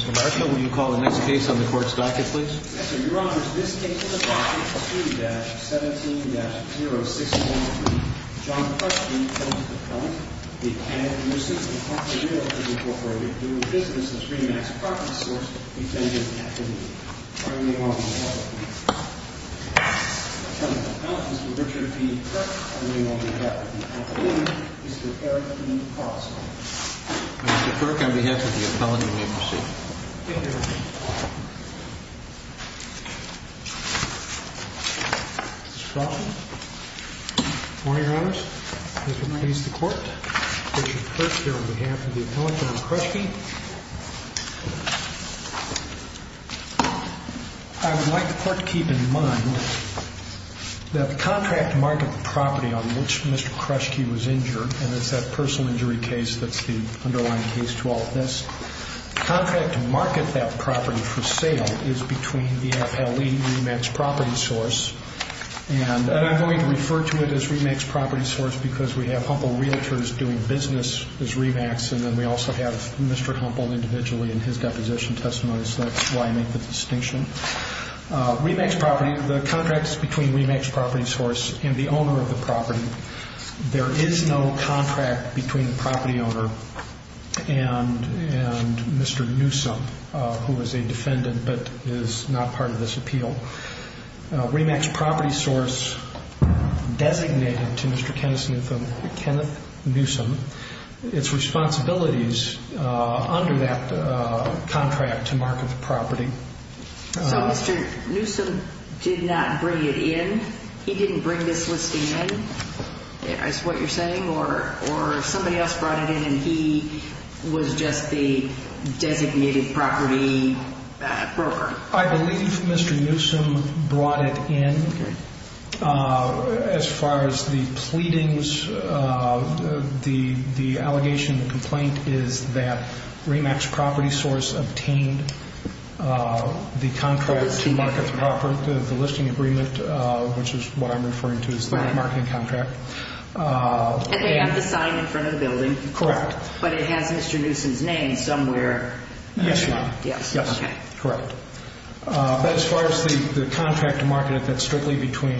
Mr. Marshall, will you call the next case on the court's docket, please? Yes, sir. Your Honor, this case is the Docket 2-17-0643. John Kruschke, plaintiff's appellant. The Academy of Newsome, Department of Journalism, Incorporated. New Business, the Screen Act's property source, intended activity. Attorney-in-Law on behalf of Mr. Kruschke. Attorney-in-Law on behalf of Mr. Kruschke. Attorney-in-Law on behalf of Mr. Kruschke. Attorney-in-Law on behalf of Mr. Kruschke. Attorney-in-Law on behalf of Mr. Kruschke. Mr. Kirk, on behalf of the appellant, you may proceed. Thank you, Your Honor. Mr. Frosman. Good morning, Your Honors. Mr. Pace, the court. Mr. Kirk, here on behalf of the appellant and Mr. Kruschke. I would like the court to keep in mind that the contract mark of the property on which Mr. Kruschke was injured and it's that personal injury case that's the underlying case to all of this. Contract to market that property for sale is between the FLE Remax Property Source and I'm going to refer to it as Remax Property Source because we have Humple Realtors doing business as Remax and then we also have Mr. Humple individually in his deposition testimony, so that's why I make the distinction. Remax Property, the contract is between Remax Property Source and the owner of the property. There is no contract between the property owner and Mr. Newsome, who is a defendant but is not part of this appeal. Remax Property Source designated to Mr. Kenneth Newsome its responsibilities under that contract to market the property. So Mr. Newsome did not bring it in? He didn't bring this listing in, is what you're saying? Or somebody else brought it in and he was just the designated property broker? I believe Mr. Newsome brought it in. As far as the pleadings, the allegation and complaint is that Remax Property Source obtained the contract to market the property, the listing agreement, which is what I'm referring to as the marketing contract. And they have the sign in front of the building, but it has Mr. Newsome's name somewhere. Yes, correct. But as far as the contract to market it, that's strictly between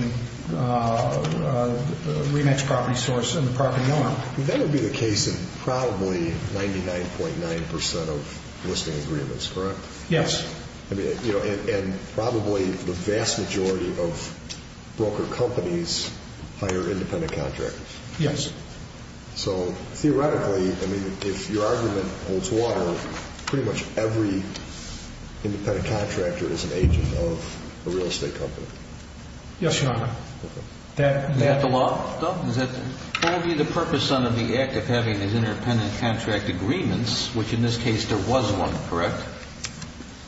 Remax Property Source and the property owner. That would be the case in probably 99.9% of listing agreements, correct? Yes. And probably the vast majority of broker companies hire independent contractors. Yes. So theoretically, I mean, if your argument holds water, pretty much every independent contractor is an agent of a real estate company. Yes, Your Honor. Is that the law? What would be the purpose under the act of having these independent contract agreements, which in this case there was one, correct,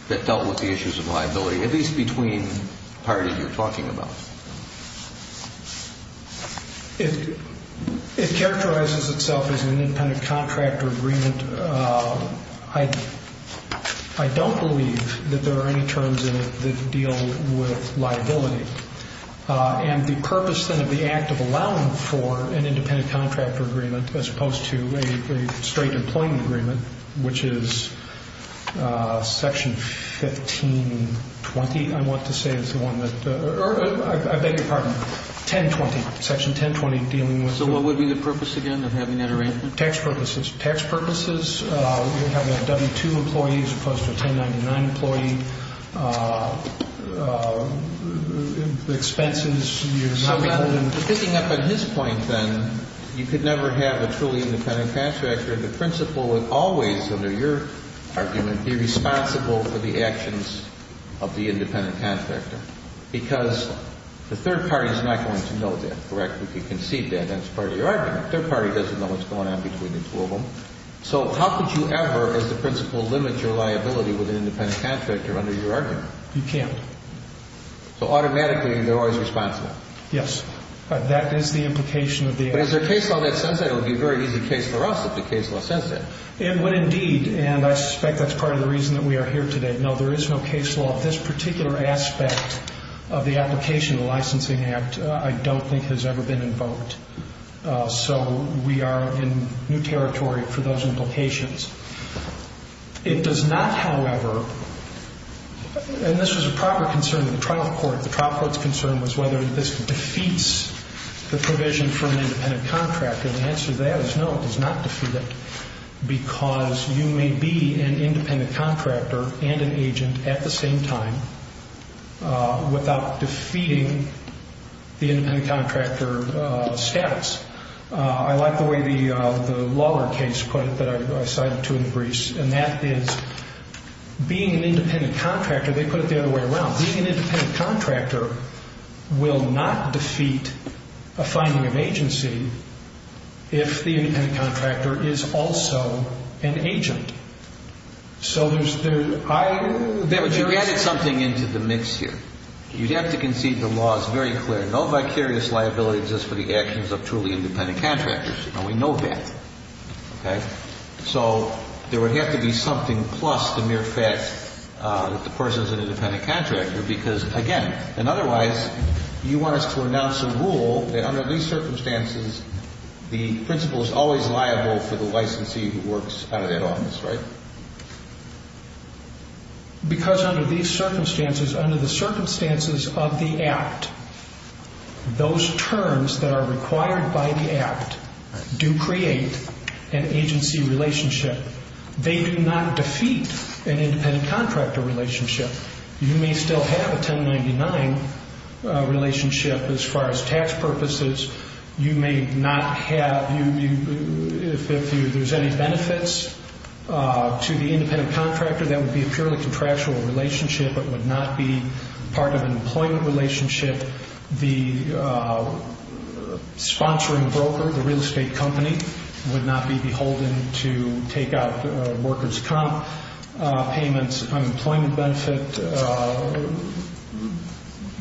that dealt with the issues of liability, at least between parties you're talking about? It characterizes itself as an independent contractor agreement. I don't believe that there are any terms in it that deal with liability. And the purpose, then, of the act of allowing for an independent contractor agreement as opposed to a straight employment agreement, which is Section 1520, I want to say is the one that or I beg your pardon, 1020, Section 1020, dealing with the ---- So what would be the purpose, again, of having that arrangement? Tax purposes. Tax purposes, having a W-2 employee as opposed to a 1099 employee. Expenses, you're saying ---- Picking up on his point, then, you could never have a truly independent contractor. The principal would always, under your argument, be responsible for the actions of the independent contractor because the third party is not going to know that, correct? If you concede that, that's part of your argument. The third party doesn't know what's going on between the two of them. So how could you ever, as the principal, limit your liability with an independent contractor under your argument? You can't. So automatically they're always responsible? Yes. That is the implication of the act. But is there a case law that says that? It would be a very easy case for us if the case law says that. It would indeed. And I suspect that's part of the reason that we are here today. No, there is no case law. This particular aspect of the application of the Licensing Act I don't think has ever been invoked. So we are in new territory for those implications. It does not, however, and this was a proper concern of the trial court. The trial court's concern was whether this defeats the provision for an independent contractor. The answer to that is no, it does not defeat it because you may be an independent contractor and an agent at the same time without defeating the independent contractor status. I like the way the lawyer case put it that I cited to in the briefs, and that is being an independent contractor, they put it the other way around. Being an independent contractor will not defeat a finding of agency if the independent contractor is also an agent. So there's the high... But you added something into the mix here. You'd have to concede the law is very clear. No vicarious liability exists for the actions of truly independent contractors, and we know that. So there would have to be something plus the mere fact that the person is an independent contractor because, again, and otherwise you want us to announce a rule that under these circumstances the principal is always liable for the licensee who works out of that office, right? Because under these circumstances, under the circumstances of the Act, those terms that are required by the Act do create an agency relationship. They do not defeat an independent contractor relationship. You may still have a 1099 relationship as far as tax purposes. You may not have, if there's any benefits to the independent contractor, that would be a purely contractual relationship. It would not be part of an employment relationship. The sponsoring broker, the real estate company, would not be beholden to take out workers' comp payments, unemployment benefit.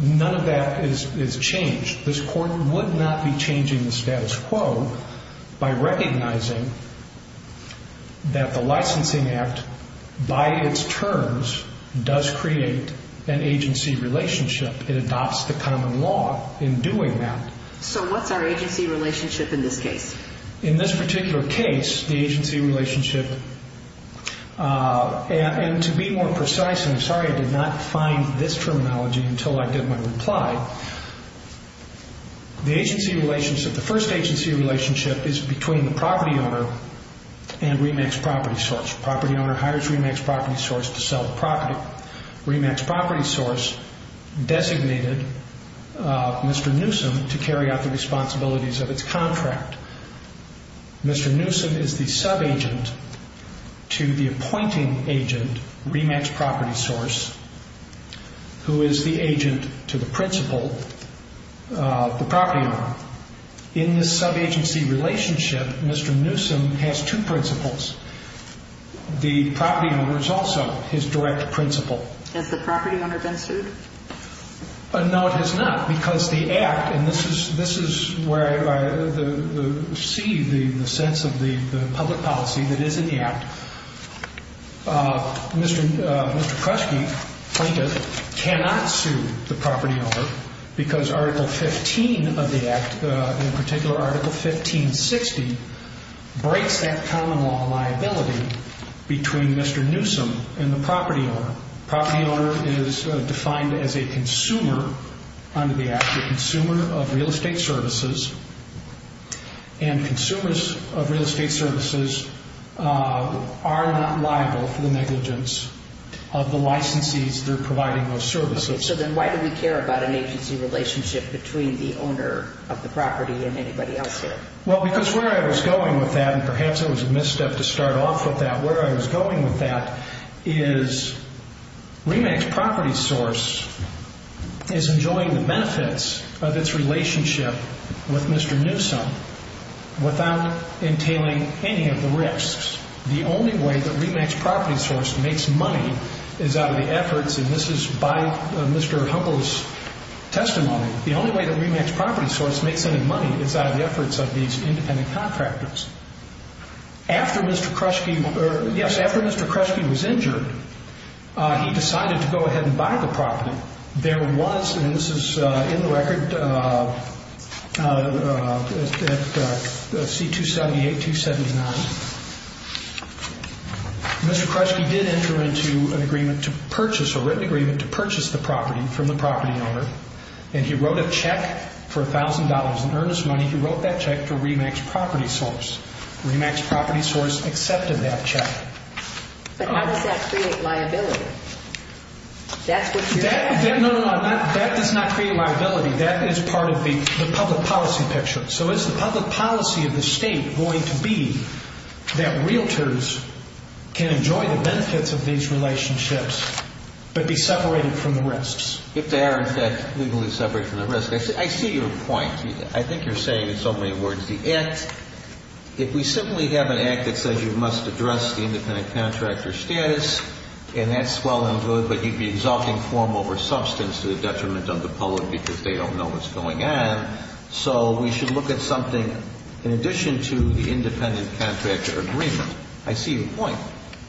None of that is changed. This Court would not be changing the status quo by recognizing that the Licensing Act, by its terms, does create an agency relationship. It adopts the common law in doing that. So what's our agency relationship in this case? In this particular case, the agency relationship, and to be more precise, and I'm sorry I did not find this terminology until I did my reply, the agency relationship, the first agency relationship is between the property owner and REMAX Property Source. The property owner hires REMAX Property Source to sell the property. REMAX Property Source designated Mr. Newsom to carry out the responsibilities of its contract. Mr. Newsom is the sub-agent to the appointing agent, REMAX Property Source, who is the agent to the principal, the property owner. In this sub-agency relationship, Mr. Newsom has two principals. The property owner is also his direct principal. Has the property owner been sued? No, it has not, because the Act, and this is where I see the sense of the public policy that is in the Act, Mr. Kresge, plaintiff, cannot sue the property owner because Article 15 of the Act, in particular Article 1560, breaks that common law liability between Mr. Newsom and the property owner. The property owner is defined as a consumer under the Act, a consumer of real estate services, and consumers of real estate services are not liable for the negligence of the licensees they're providing those services. Okay, so then why do we care about an agency relationship between the owner of the property and anybody else here? Well, because where I was going with that, and perhaps it was a misstep to start off with that, but where I was going with that is Remax Property Source is enjoying the benefits of its relationship with Mr. Newsom without entailing any of the risks. The only way that Remax Property Source makes money is out of the efforts, and this is by Mr. Humble's testimony, the only way that Remax Property Source makes any money is out of the efforts of these independent contractors. After Mr. Kresge, yes, after Mr. Kresge was injured, he decided to go ahead and buy the property. There was, and this is in the record at C-278, 279, Mr. Kresge did enter into an agreement to purchase, a written agreement to purchase the property from the property owner, and he wrote a check for $1,000 in earnest money. He wrote that check to Remax Property Source. Remax Property Source accepted that check. But how does that create liability? No, no, no, that does not create liability. That is part of the public policy picture. So is the public policy of the state going to be that realtors can enjoy the benefits of these relationships but be separated from the risks? If they are, in fact, legally separated from the risks. I see your point. I think you're saying in so many words the act, if we simply have an act that says you must address the independent contractor status and that's well and good, but you'd be exalting form over substance to the detriment of the public because they don't know what's going on. So we should look at something in addition to the independent contractor agreement. I see your point.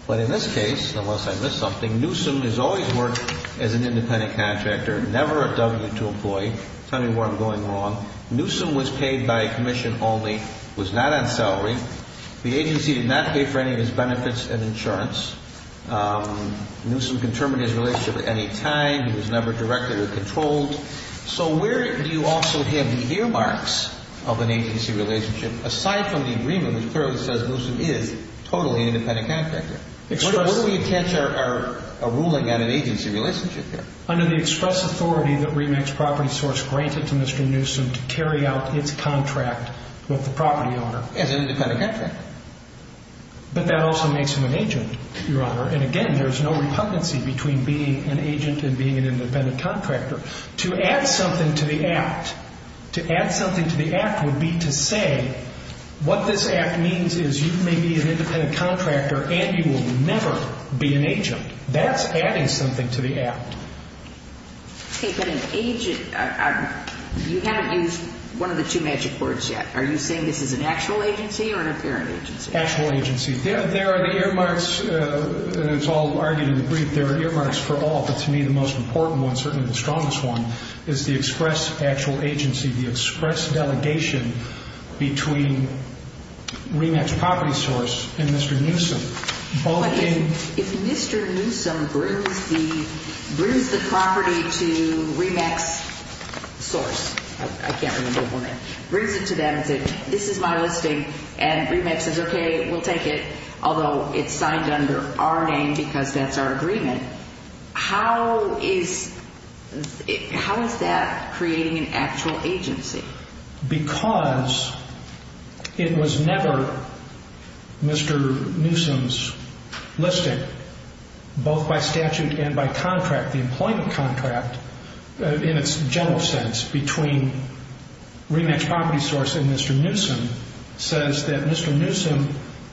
But in this case, unless I missed something, Newsom has always worked as an independent contractor, never a W-2 employee. Tell me where I'm going wrong. Newsom was paid by commission only, was not on salary. The agency did not pay for any of his benefits and insurance. Newsom can terminate his relationship at any time. He was never directly controlled. So where do you also have the earmarks of an agency relationship aside from the agreement, which clearly says Newsom is totally independent contractor? Where do we attach our ruling on an agency relationship? Under the express authority that REMAX Property Source granted to Mr. Newsom to carry out its contract with the property owner. As an independent contractor. But that also makes him an agent, Your Honor. And again, there's no repugnancy between being an agent and being an independent contractor. To add something to the act, to add something to the act would be to say what this act means is you may be an independent contractor and you will never be an agent. That's adding something to the act. Okay, but an agent, you haven't used one of the two magic words yet. Are you saying this is an actual agency or an apparent agency? Actual agency. There are the earmarks, and it's all argued in the brief, there are earmarks for all. But to me, the most important one, certainly the strongest one, is the express actual agency, the express delegation between REMAX Property Source and Mr. Newsom. But if Mr. Newsom brings the property to REMAX Source, I can't remember the name, brings it to them and says this is my listing, and REMAX says okay, we'll take it, although it's signed under our name because that's our agreement, how is that creating an actual agency? Because it was never Mr. Newsom's listing, both by statute and by contract. The employment contract, in its general sense, between REMAX Property Source and Mr. Newsom, says that Mr. Newsom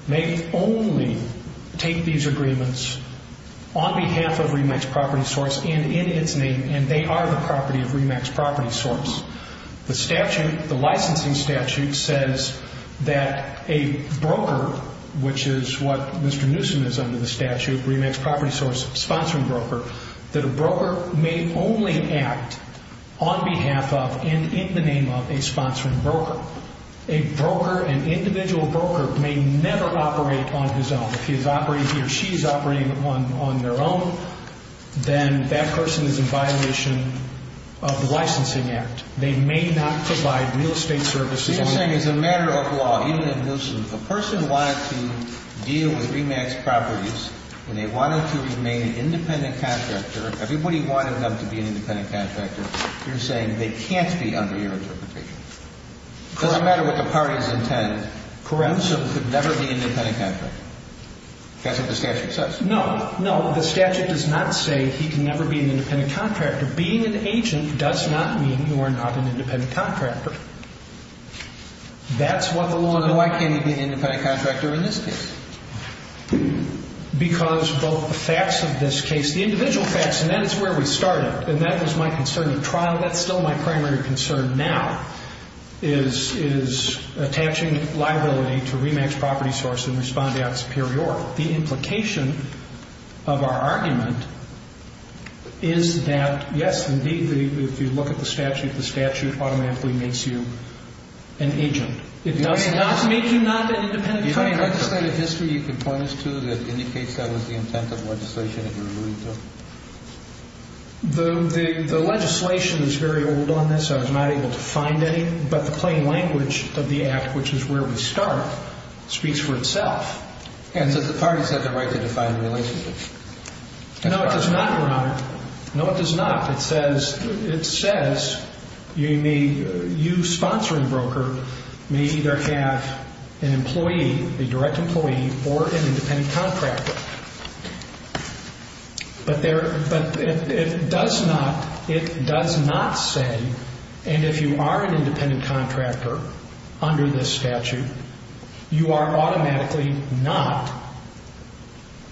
may only take these agreements on behalf of REMAX Property Source and in its name, and they are the property of REMAX Property Source. The licensing statute says that a broker, which is what Mr. Newsom is under the statute, REMAX Property Source sponsoring broker, that a broker may only act on behalf of and in the name of a sponsoring broker. A broker, an individual broker, may never operate on his own. If he or she is operating on their own, then that person is in violation of the licensing act. They may not provide real estate services. You're saying as a matter of law, even if Newsom, a person wanted to deal with REMAX Properties and they wanted to remain an independent contractor, everybody wanted them to be an independent contractor, you're saying they can't be under your interpretation. It doesn't matter what the party's intent. Correct. So he could never be an independent contractor. That's what the statute says. No, no. The statute does not say he can never be an independent contractor. Being an agent does not mean you are not an independent contractor. That's what the law says. Then why can't he be an independent contractor in this case? Because both the facts of this case, the individual facts, and that is where we started, and that was my concern at trial. That's still my primary concern now is attaching liability to REMAX Property Source and Respond Act Superior. The implication of our argument is that, yes, indeed, if you look at the statute, the statute automatically makes you an agent. It does not make you not an independent contractor. Do you have any legislative history you can point us to that indicates that was the intent of legislation that you're alluding to? The legislation is very old on this. I was not able to find any, but the plain language of the Act, which is where we start, speaks for itself. And does the party have the right to define the relationship? No, it does not, Your Honor. No, it does not. It says you sponsoring broker may either have an employee, a direct employee, or an independent contractor. But it does not say, and if you are an independent contractor under this statute, you are automatically not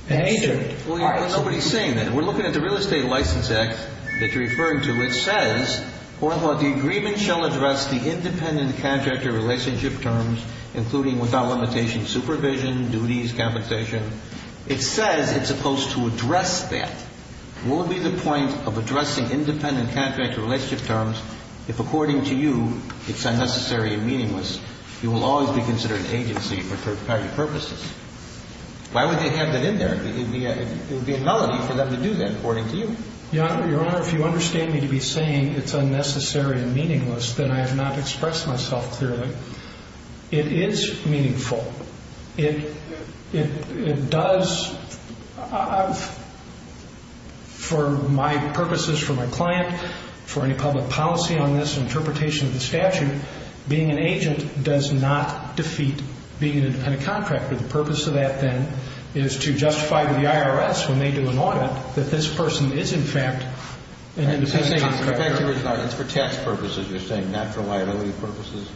an agent. Well, nobody is saying that. We're looking at the Real Estate License Act that you're referring to. It says, the agreement shall address the independent contractor relationship terms, including without limitation supervision, duties, compensation. It says it's supposed to address that. What would be the point of addressing independent contractor relationship terms if, according to you, it's unnecessary and meaningless? You will always be considered an agency for private purposes. Why would they have that in there? It would be a nullity for them to do that, according to you. Your Honor, if you understand me to be saying it's unnecessary and meaningless, then I have not expressed myself clearly. It is meaningful. It does, for my purposes, for my client, for any public policy on this interpretation of the statute, being an agent does not defeat being an independent contractor. The purpose of that, then, is to justify to the IRS when they do an audit that this person is, in fact, an independent contractor. It's for tax purposes, you're saying, not for liability purposes?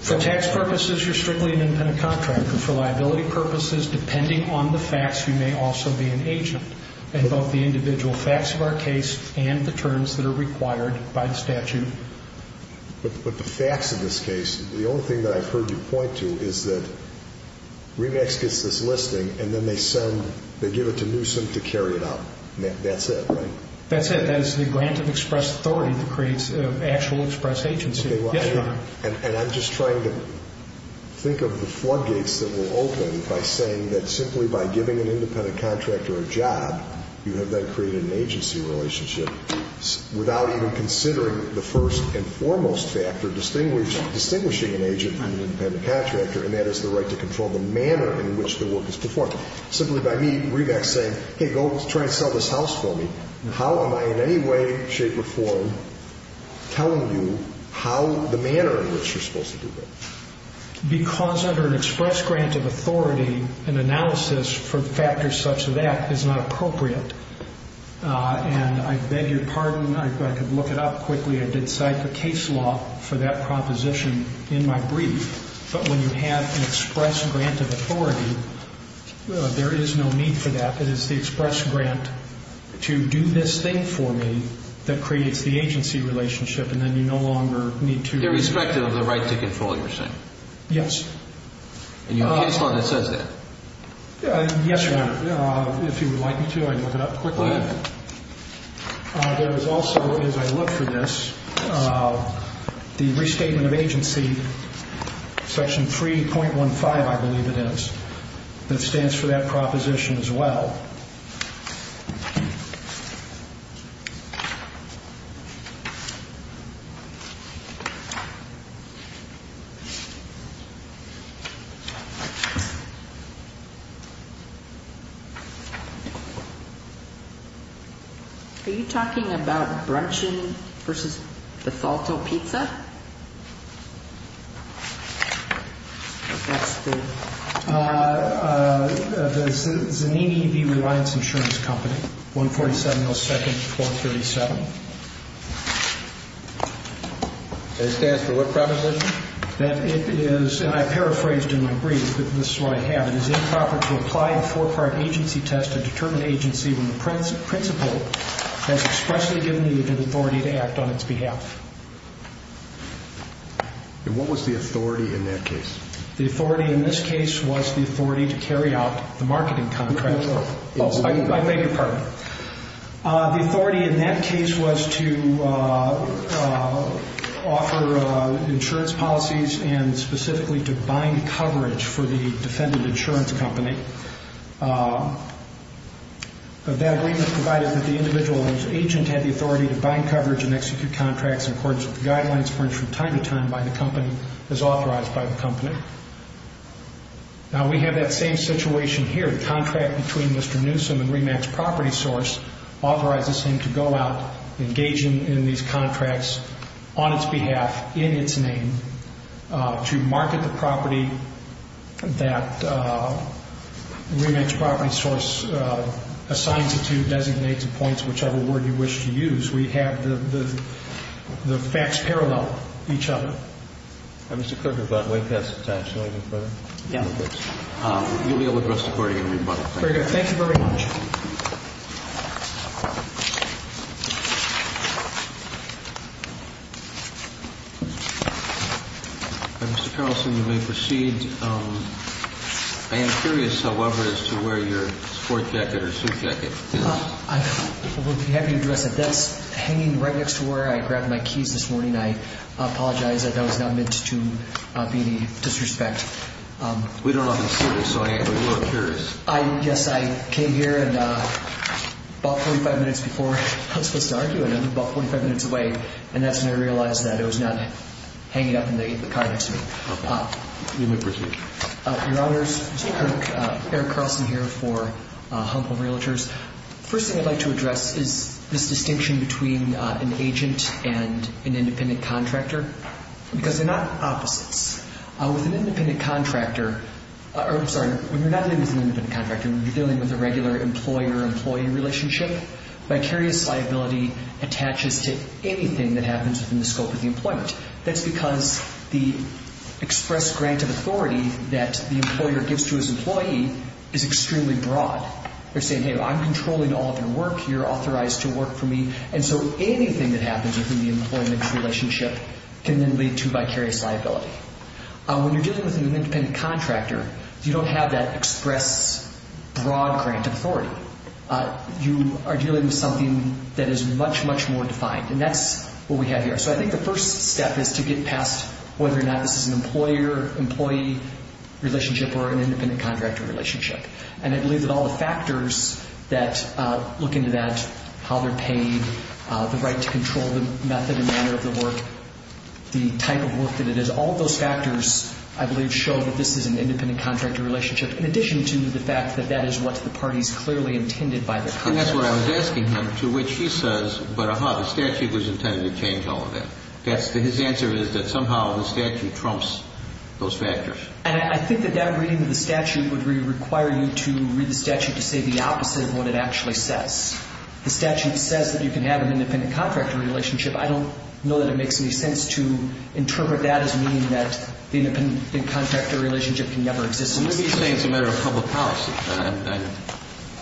For tax purposes, you're strictly an independent contractor. For liability purposes, depending on the facts, you may also be an agent in both the individual facts of our case and the terms that are required by the statute. But the facts of this case, the only thing that I've heard you point to is that REMAX gets this listing and then they send, they give it to Newsom to carry it out. That's it, right? That's it. That is the grant of express authority that creates an actual express agency. Yes, Your Honor. And I'm just trying to think of the floodgates that will open by saying that simply by giving an independent contractor a job, you have then created an agency relationship without even considering the first and foremost factor distinguishing an agent from an independent contractor, and that is the right to control the manner in which the work is performed. Simply by me, REMAX saying, hey, go try to sell this house for me, how am I in any way, shape, or form telling you how the manner in which you're supposed to do that? Because under an express grant of authority, an analysis for factors such as that is not appropriate. And I beg your pardon, I could look it up quickly. I did cite the case law for that proposition in my brief. But when you have an express grant of authority, there is no need for that. It is the express grant to do this thing for me that creates the agency relationship, and then you no longer need to. Irrespective of the right to control, you're saying? Yes. And you have a case law that says that? Yes, Your Honor. If you would like me to, I can look it up quickly. Go ahead. There is also, as I look for this, the restatement of agency, section 3.15, I believe it is, that stands for that proposition as well. Are you talking about Bruncheon v. Bethalto Pizza? That's the... The Zanini B. Reliance Insurance Company, 147 O. 2nd, 437. And it stands for what proposition? That it is, and I paraphrased in my brief, but this is what I have. It is improper to apply a four-part agency test to determine agency when the principal has expressly given you the authority to act on its behalf. And what was the authority in that case? The authority in this case was the authority to carry out the marketing contract. Who paid for it? I beg your pardon. The authority in that case was to offer insurance policies and specifically to bind coverage for the defendant insurance company. That agreement provided that the individual agent had the authority to bind coverage and execute contracts in accordance with the guidelines furnished from time to time by the company, as authorized by the company. Now, we have that same situation here. The contract between Mr. Newsom and Remax Property Source authorizes him to go out, engage in these contracts on its behalf, in its name, to market the property that Remax Property Source assigns it to, designates, appoints, whichever word you wish to use. We have the facts parallel each other. All right. Mr. Kruger, we're about way past the time. Shall I go further? Yeah. You'll be able to address the court again when you're done. Very good. Thank you very much. Mr. Carlson, you may proceed. I am curious, however, as to where your sport jacket or suit jacket is. I will be happy to address it. That's hanging right next to where I grabbed my keys this morning. I apologize. That was not meant to be any disrespect. We don't often see this, so I am a little curious. Yes, I came here about 45 minutes before I was supposed to argue, and I'm about 45 minutes away, and that's when I realized that it was not hanging up in the car next to me. You may proceed. Your Honors, Eric Carlson here for Home Home Realtors. First thing I'd like to address is this distinction between an agent and an independent contractor because they're not opposites. With an independent contractor or, I'm sorry, when you're not dealing with an independent contractor, when you're dealing with a regular employer-employee relationship, vicarious liability attaches to anything that happens within the scope of the employment. That's because the express grant of authority that the employer gives to his employee is extremely broad. They're saying, hey, I'm controlling all of your work. You're authorized to work for me. And so anything that happens within the employment relationship can then lead to vicarious liability. When you're dealing with an independent contractor, you don't have that express broad grant of authority. You are dealing with something that is much, much more defined, and that's what we have here. So I think the first step is to get past whether or not this is an employer-employee relationship or an independent contractor relationship. And I believe that all the factors that look into that, how they're paid, the right to control the method and manner of the work, the type of work that it is, all of those factors, I believe, show that this is an independent contractor relationship in addition to the fact that that is what the parties clearly intended by the contract. And that's what I was asking him, to which he says, but, aha, the statute was intended to change all of that. His answer is that somehow the statute trumps those factors. And I think that that reading of the statute would require you to read the statute to say the opposite of what it actually says. The statute says that you can have an independent contractor relationship. I don't know that it makes any sense to interpret that as meaning that the independent contractor relationship can never exist. He's saying it's a matter of public policy, and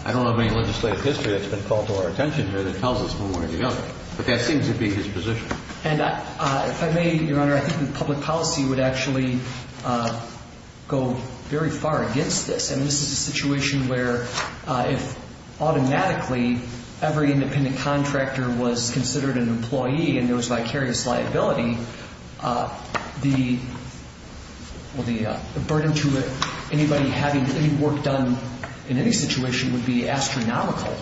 I don't have any legislative history that's been called to our attention here that tells us when one or the other. But that seems to be his position. And if I may, Your Honor, I think public policy would actually go very far against this. And this is a situation where if automatically every independent contractor was considered an employee and there was vicarious liability, the burden to anybody having any work done in any situation would be astronomical.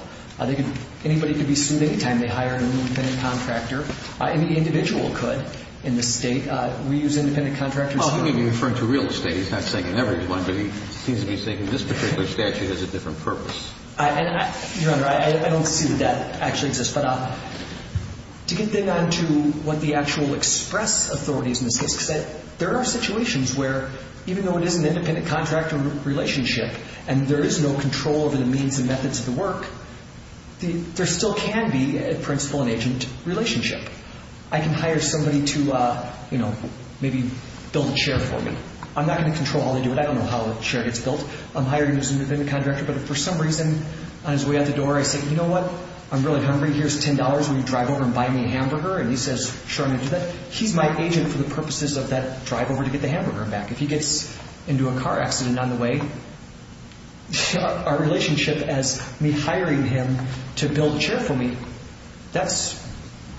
Anybody could be sued any time they hired an independent contractor. Any individual could in this State. We use independent contractors. Well, he may be referring to real estate. He's not saying in every one, but he seems to be saying this particular statute has a different purpose. Your Honor, I don't see that that actually exists. But to get down to what the actual express authorities in the SISC said, there are situations where even though it is an independent contractor relationship and there is no control over the means and methods of the work, there still can be a principal and agent relationship. I can hire somebody to maybe build a chair for me. I'm not going to control how they do it. I don't know how a chair gets built. I'm hiring as an independent contractor, but if for some reason on his way out the door I say, you know what, I'm really hungry. Here's $10. Will you drive over and buy me a hamburger? And he says, sure, I'm going to do that. He's my agent for the purposes of that drive over to get the hamburger back. If he gets into a car accident on the way, our relationship as me hiring him to build a chair for me, that's,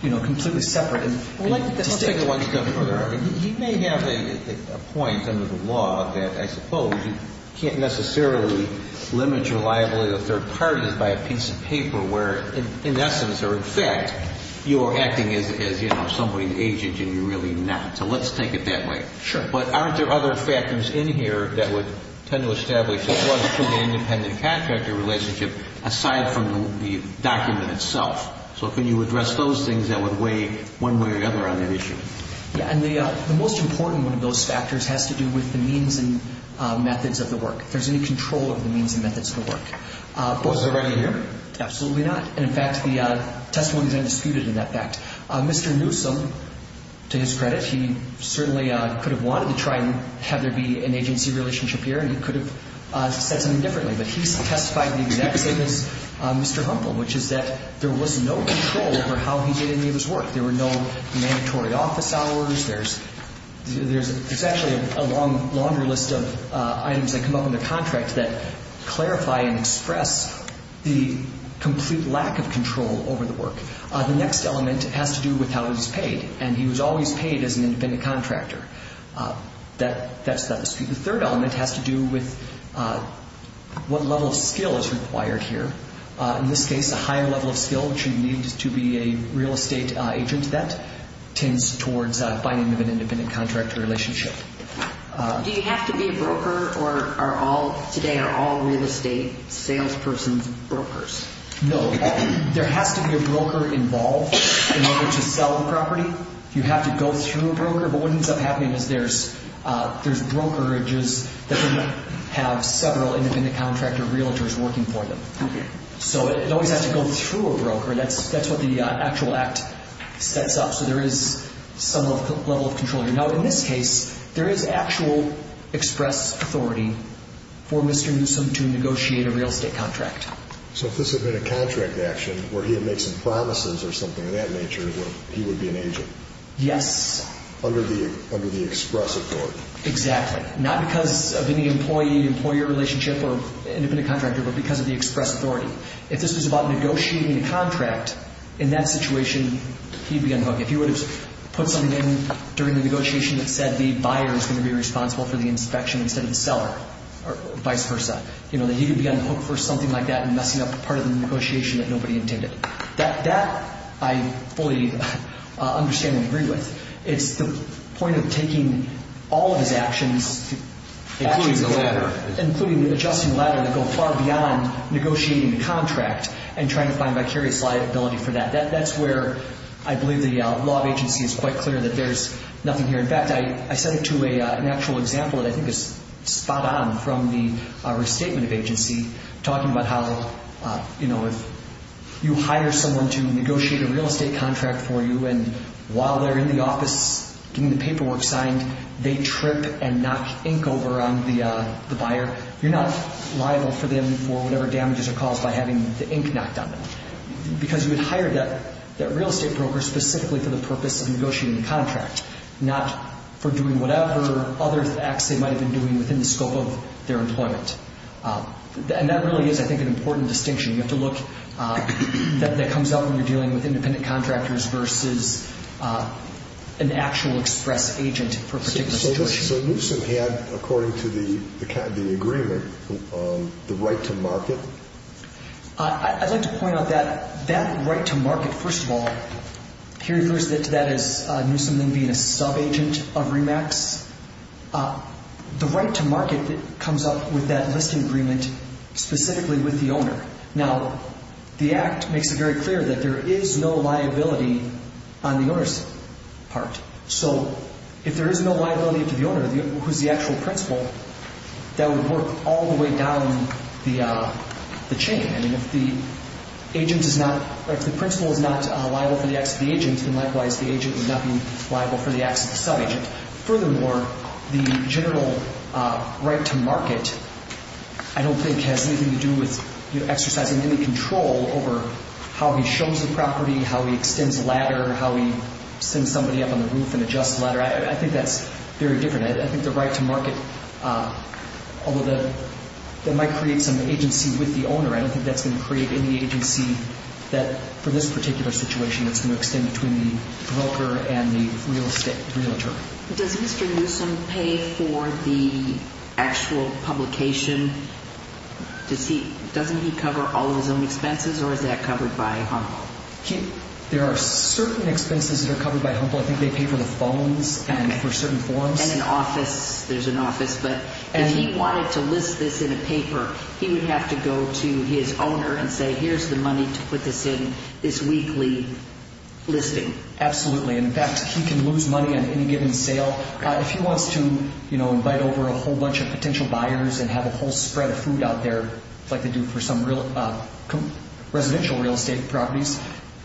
you know, completely separate. He may have a point under the law that I suppose you can't necessarily limit your liability to third parties by a piece of paper where in essence or in fact you're acting as, you know, somebody's agent and you're really not. So let's take it that way. Sure. But aren't there other factors in here that would tend to establish there was an independent contractor relationship aside from the document itself? So can you address those things that would weigh one way or the other on the issue? Yeah, and the most important one of those factors has to do with the means and methods of the work, if there's any control over the means and methods of the work. Of course, they're already here. Absolutely not. And in fact, the testimony is undisputed in that fact. Mr. Newsome, to his credit, he certainly could have wanted to try and have there be an agency relationship here and he could have said something differently. But he testified the exact same as Mr. Humpel, which is that there was no control over how he did any of his work. There were no mandatory office hours. There's actually a longer list of items that come up in the contract that clarify and express the complete lack of control over the work. The next element has to do with how he was paid, and he was always paid as an independent contractor. That's not disputed. The third element has to do with what level of skill is required here. In this case, a higher level of skill, which you need to be a real estate agent, that tends towards finding an independent contractor relationship. Do you have to be a broker or today are all real estate salespersons brokers? No. There has to be a broker involved in order to sell the property. You have to go through a broker, but what ends up happening is there's brokerages that have several independent contractor realtors working for them. Okay. So it always has to go through a broker. That's what the actual act sets up. So there is some level of control here. Now, in this case, there is actual express authority for Mr. Newsome to negotiate a real estate contract. So if this had been a contract action where he had made some promises or something of that nature, he would be an agent? Yes. Under the express authority? Exactly. Not because of any employee-employer relationship or independent contractor, but because of the express authority. If this was about negotiating a contract, in that situation, he'd be unhooked. If he would have put something in during the negotiation that said the buyer is going to be responsible for the inspection instead of the seller, or vice versa, that he would be unhooked for something like that and messing up part of the negotiation that nobody intended. That I fully understand and agree with. It's the point of taking all of his actions, including the ladder, including adjusting the ladder to go far beyond negotiating the contract and trying to find vicarious liability for that. That's where I believe the law of agency is quite clear that there's nothing here. In fact, I set it to an actual example that I think is spot on from the restatement of agency, talking about how, you know, if you hire someone to negotiate a real estate contract for you and while they're in the office getting the paperwork signed, they trip and knock ink over on the buyer, you're not liable for them for whatever damages are caused by having the ink knocked on them. Because you had hired that real estate broker specifically for the purpose of negotiating the contract, not for doing whatever other acts they might have been doing within the scope of their employment. And that really is, I think, an important distinction. You have to look that comes up when you're dealing with independent contractors versus an actual express agent for a particular situation. So Newsom had, according to the agreement, the right to market? I'd like to point out that that right to market, first of all, here refers to that as Newsom then being a sub-agent of REMAX. The right to market comes up with that listing agreement specifically with the owner. Now, the Act makes it very clear that there is no liability on the owner's part. So if there is no liability to the owner, who's the actual principal, that would work all the way down the chain. I mean, if the principal is not liable for the acts of the agent, then likewise the agent would not be liable for the acts of the sub-agent. Furthermore, the general right to market, I don't think, has anything to do with exercising any control over how he shows the property, how he extends a ladder, how he sends somebody up on the roof and adjusts the ladder. I think that's very different. I think the right to market, although that might create some agency with the owner, I don't think that's going to create any agency for this particular situation that's going to extend between the broker and the real estate, the realtor. Does Mr. Newsom pay for the actual publication? Doesn't he cover all of his own expenses or is that covered by HUMBL? There are certain expenses that are covered by HUMBL. I think they pay for the phones and for certain forms. And an office. There's an office. But if he wanted to list this in a paper, he would have to go to his owner and say, here's the money to put this in this weekly listing. Absolutely. In fact, he can lose money on any given sale. If he wants to invite over a whole bunch of potential buyers and have a whole spread of food out there like they do for some residential real estate properties,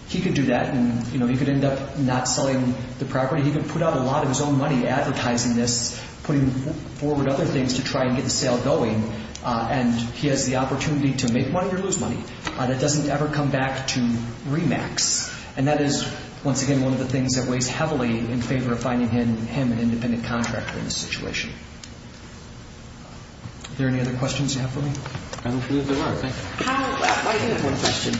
he could do that and he could end up not selling the property. He could put out a lot of his own money advertising this, putting forward other things to try and get the sale going, and he has the opportunity to make money or lose money. That doesn't ever come back to REMAX. And that is, once again, one of the things that weighs heavily in favor of finding him an independent contractor in this situation. Are there any other questions you have for me? I don't see that there are. I do have one question.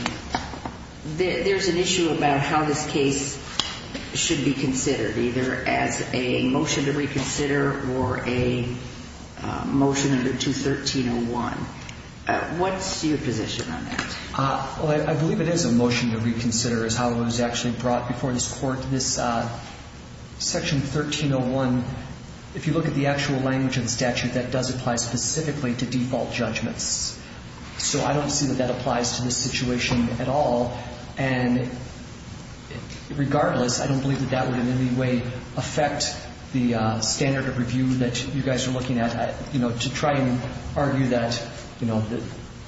There's an issue about how this case should be considered, either as a motion to reconsider or a motion under 213.01. What's your position on that? I believe it is a motion to reconsider is how it was actually brought before this court. Section 1301, if you look at the actual language of the statute, that does apply specifically to default judgments. So I don't see that that applies to this situation at all. And regardless, I don't believe that that would in any way affect the standard of review that you guys are looking at. To try and argue that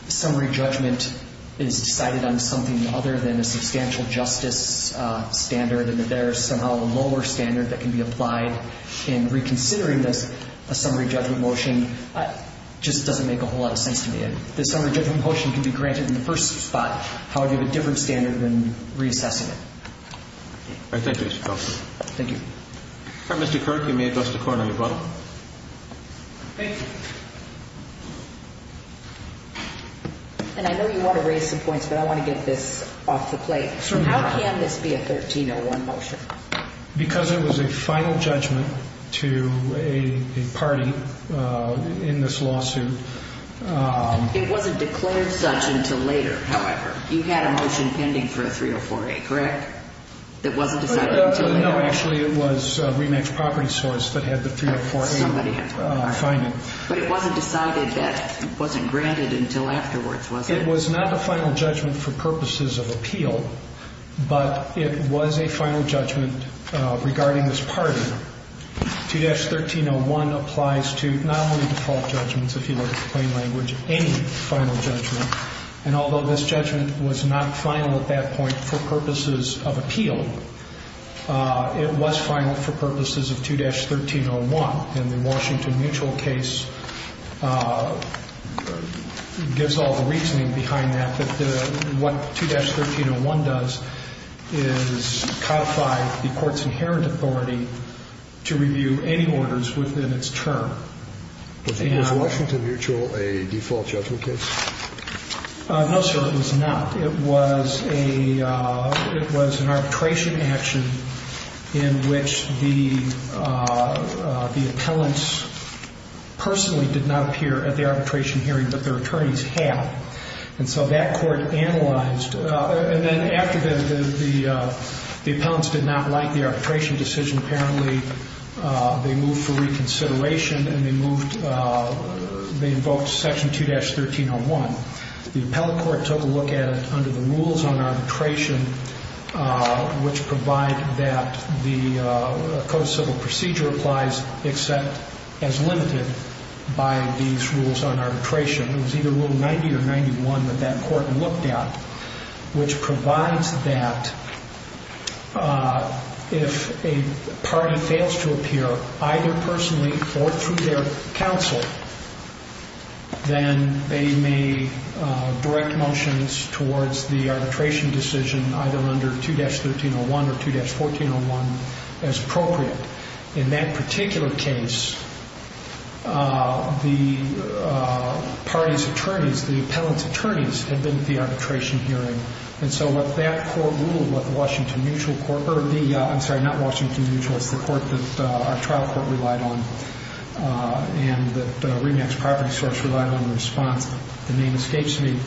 summary judgment is decided on something other than a substantial justice standard and that there is somehow a lower standard that can be applied in reconsidering this, a summary judgment motion, just doesn't make a whole lot of sense to me. If the summary judgment motion can be granted in the first spot, how would you have a different standard than reassessing it? All right. Thank you, Mr. Coughlin. Thank you. All right, Mr. Kirk, you may address the court on your button. Thank you. And I know you want to raise some points, but I want to get this off the plate. How can this be a 1301 motion? Because it was a final judgment to a party in this lawsuit. It wasn't declared such until later, however. You had a motion pending for a 304A, correct? That wasn't decided until later? No, actually, it was Remax Property Source that had the 304A finding. But it wasn't decided that it wasn't granted until afterwards, was it? It was not a final judgment for purposes of appeal, but it was a final judgment regarding this party. 2-1301 applies to not only default judgments, if you like the plain language, any final judgment. And although this judgment was not final at that point for purposes of appeal, it was final for purposes of 2-1301. And the Washington Mutual case gives all the reasoning behind that, that what 2-1301 does is codify the court's inherent authority to review any orders within its term. Was Washington Mutual a default judgment case? No, sir, it was not. It was an arbitration action in which the appellants personally did not appear at the arbitration hearing, but their attorneys had. And so that court analyzed. And then after the appellants did not like the arbitration decision, apparently they moved for reconsideration and they moved, they invoked Section 2-1301. The appellate court took a look at it under the rules on arbitration, which provide that the co-civil procedure applies except as limited by these rules on arbitration. It was either Rule 90 or 91 that that court looked at, which provides that if a party fails to appear, either personally or through their counsel, then they may direct motions towards the arbitration decision, either under 2-1301 or 2-1401, as appropriate. In that particular case, the party's attorneys, the appellant's attorneys, had been at the arbitration hearing. And so what that court ruled, what the Washington Mutual court, or the, I'm sorry, not Washington Mutual, it's the court that our trial court relied on and that the REMAX property source relied on in response. The name escapes me.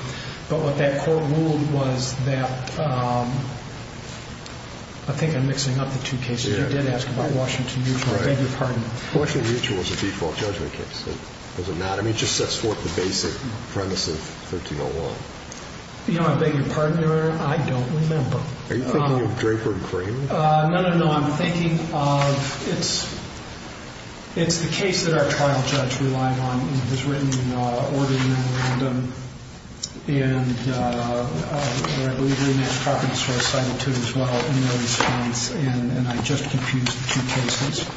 But what that court ruled was that, I think I'm mixing up the two cases. You did ask about Washington Mutual. I beg your pardon. Washington Mutual was a default judgment case, was it not? I mean, it just sets forth the basic premise of 1301. You know, I beg your pardon, Your Honor. I don't remember. Are you thinking of Draper and Crane? No, no, no. I'm thinking of, it's the case that our trial judge relied on and has written in order and memorandum. And I believe the REMAX property source cited it, too, as well, in their response. And I just confused the two cases.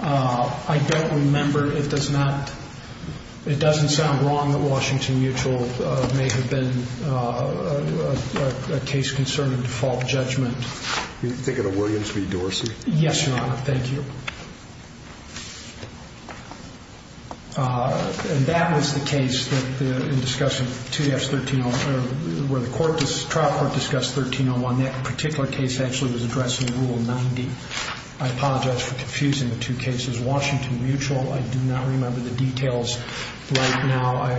I don't remember. It does not, it doesn't sound wrong that Washington Mutual may have been a case concerning default judgment. Are you thinking of Williams v. Dorsey? Yes, Your Honor. Thank you. And that was the case that, in discussing 2 F's 1301, where the trial court discussed 1301. That particular case actually was addressing Rule 90. I apologize for confusing the two cases. Washington Mutual, I do not remember the details right now. I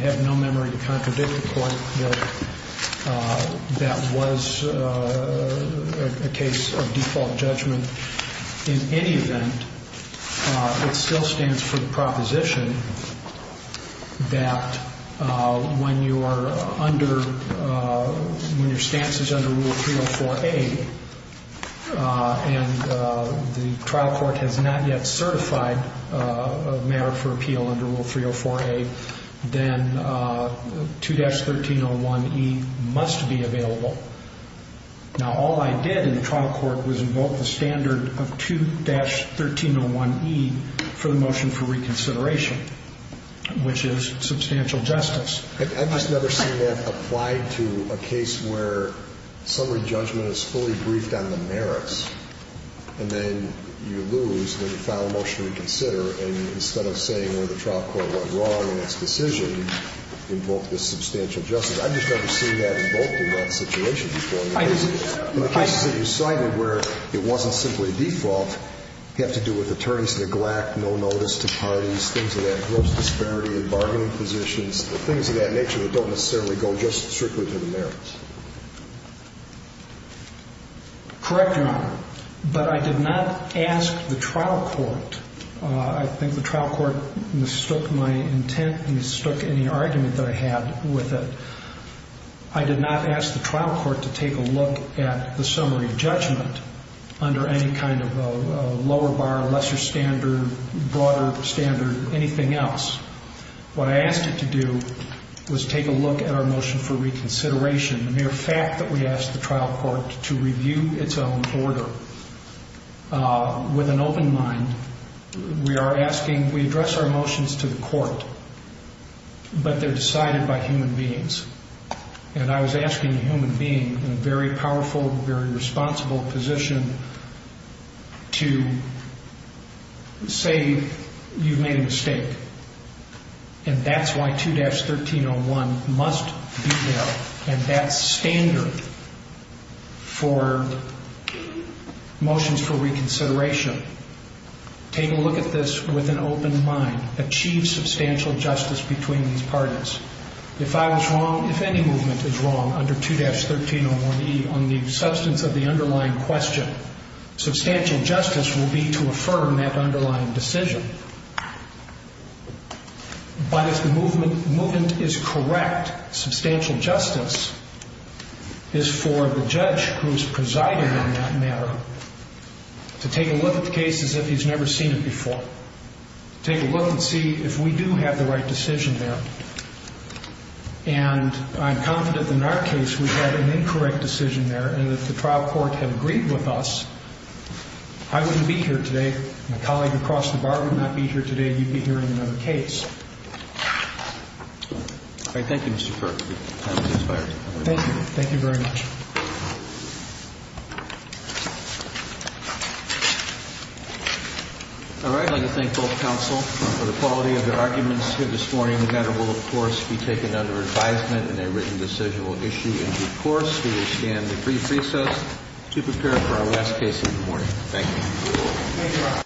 have no memory to contradict the court that that was a case of default judgment. In any event, it still stands for the proposition that when you are under, when your stance is under Rule 304A, and the trial court has not yet certified a merit for appeal under Rule 304A, then 2-1301E must be available. Now, all I did in the trial court was invoke the standard of 2-1301E for the motion for reconsideration, which is substantial justice. I've just never seen that applied to a case where summary judgment is fully briefed on the merits, and then you lose when you file a motion to reconsider, and instead of saying, well, the trial court went wrong in its decision, invoke this substantial justice. I've just never seen that invoked in that situation before. In the cases that you cited where it wasn't simply default have to do with attorneys' neglect, no notice to parties, things of that gross disparity in bargaining positions, things of that nature that don't necessarily go just strictly to the merits. Correct, Your Honor. But I did not ask the trial court. I think the trial court mistook my intent and mistook any argument that I had with it. I did not ask the trial court to take a look at the summary judgment under any kind of lower bar, lesser standard, broader standard, anything else. What I asked it to do was take a look at our motion for reconsideration, and the mere fact that we asked the trial court to review its own order with an open mind, we are asking we address our motions to the court, but they're decided by human beings. And I was asking a human being in a very powerful, very responsible position to say you've made a mistake, and that's why 2-1301 must be there and that standard for motions for reconsideration. Take a look at this with an open mind. Achieve substantial justice between these parties. If I was wrong, if any movement is wrong under 2-1301E on the substance of the underlying question, substantial justice will be to affirm that underlying decision. But if the movement is correct, substantial justice is for the judge who is presiding on that matter to take a look at the case as if he's never seen it before, take a look and see if we do have the right decision there. And I'm confident in our case we had an incorrect decision there, and if the trial court had agreed with us, I wouldn't be here today. My colleague across the bar would not be here today. You'd be hearing another case. Thank you, Mr. Kirk. Thank you. Thank you very much. All right, I'd like to thank both counsel for the quality of their arguments here this morning. The matter will, of course, be taken under advisement in a written decisional issue in due course. We will stand at brief recess to prepare for our last case of the morning. Thank you.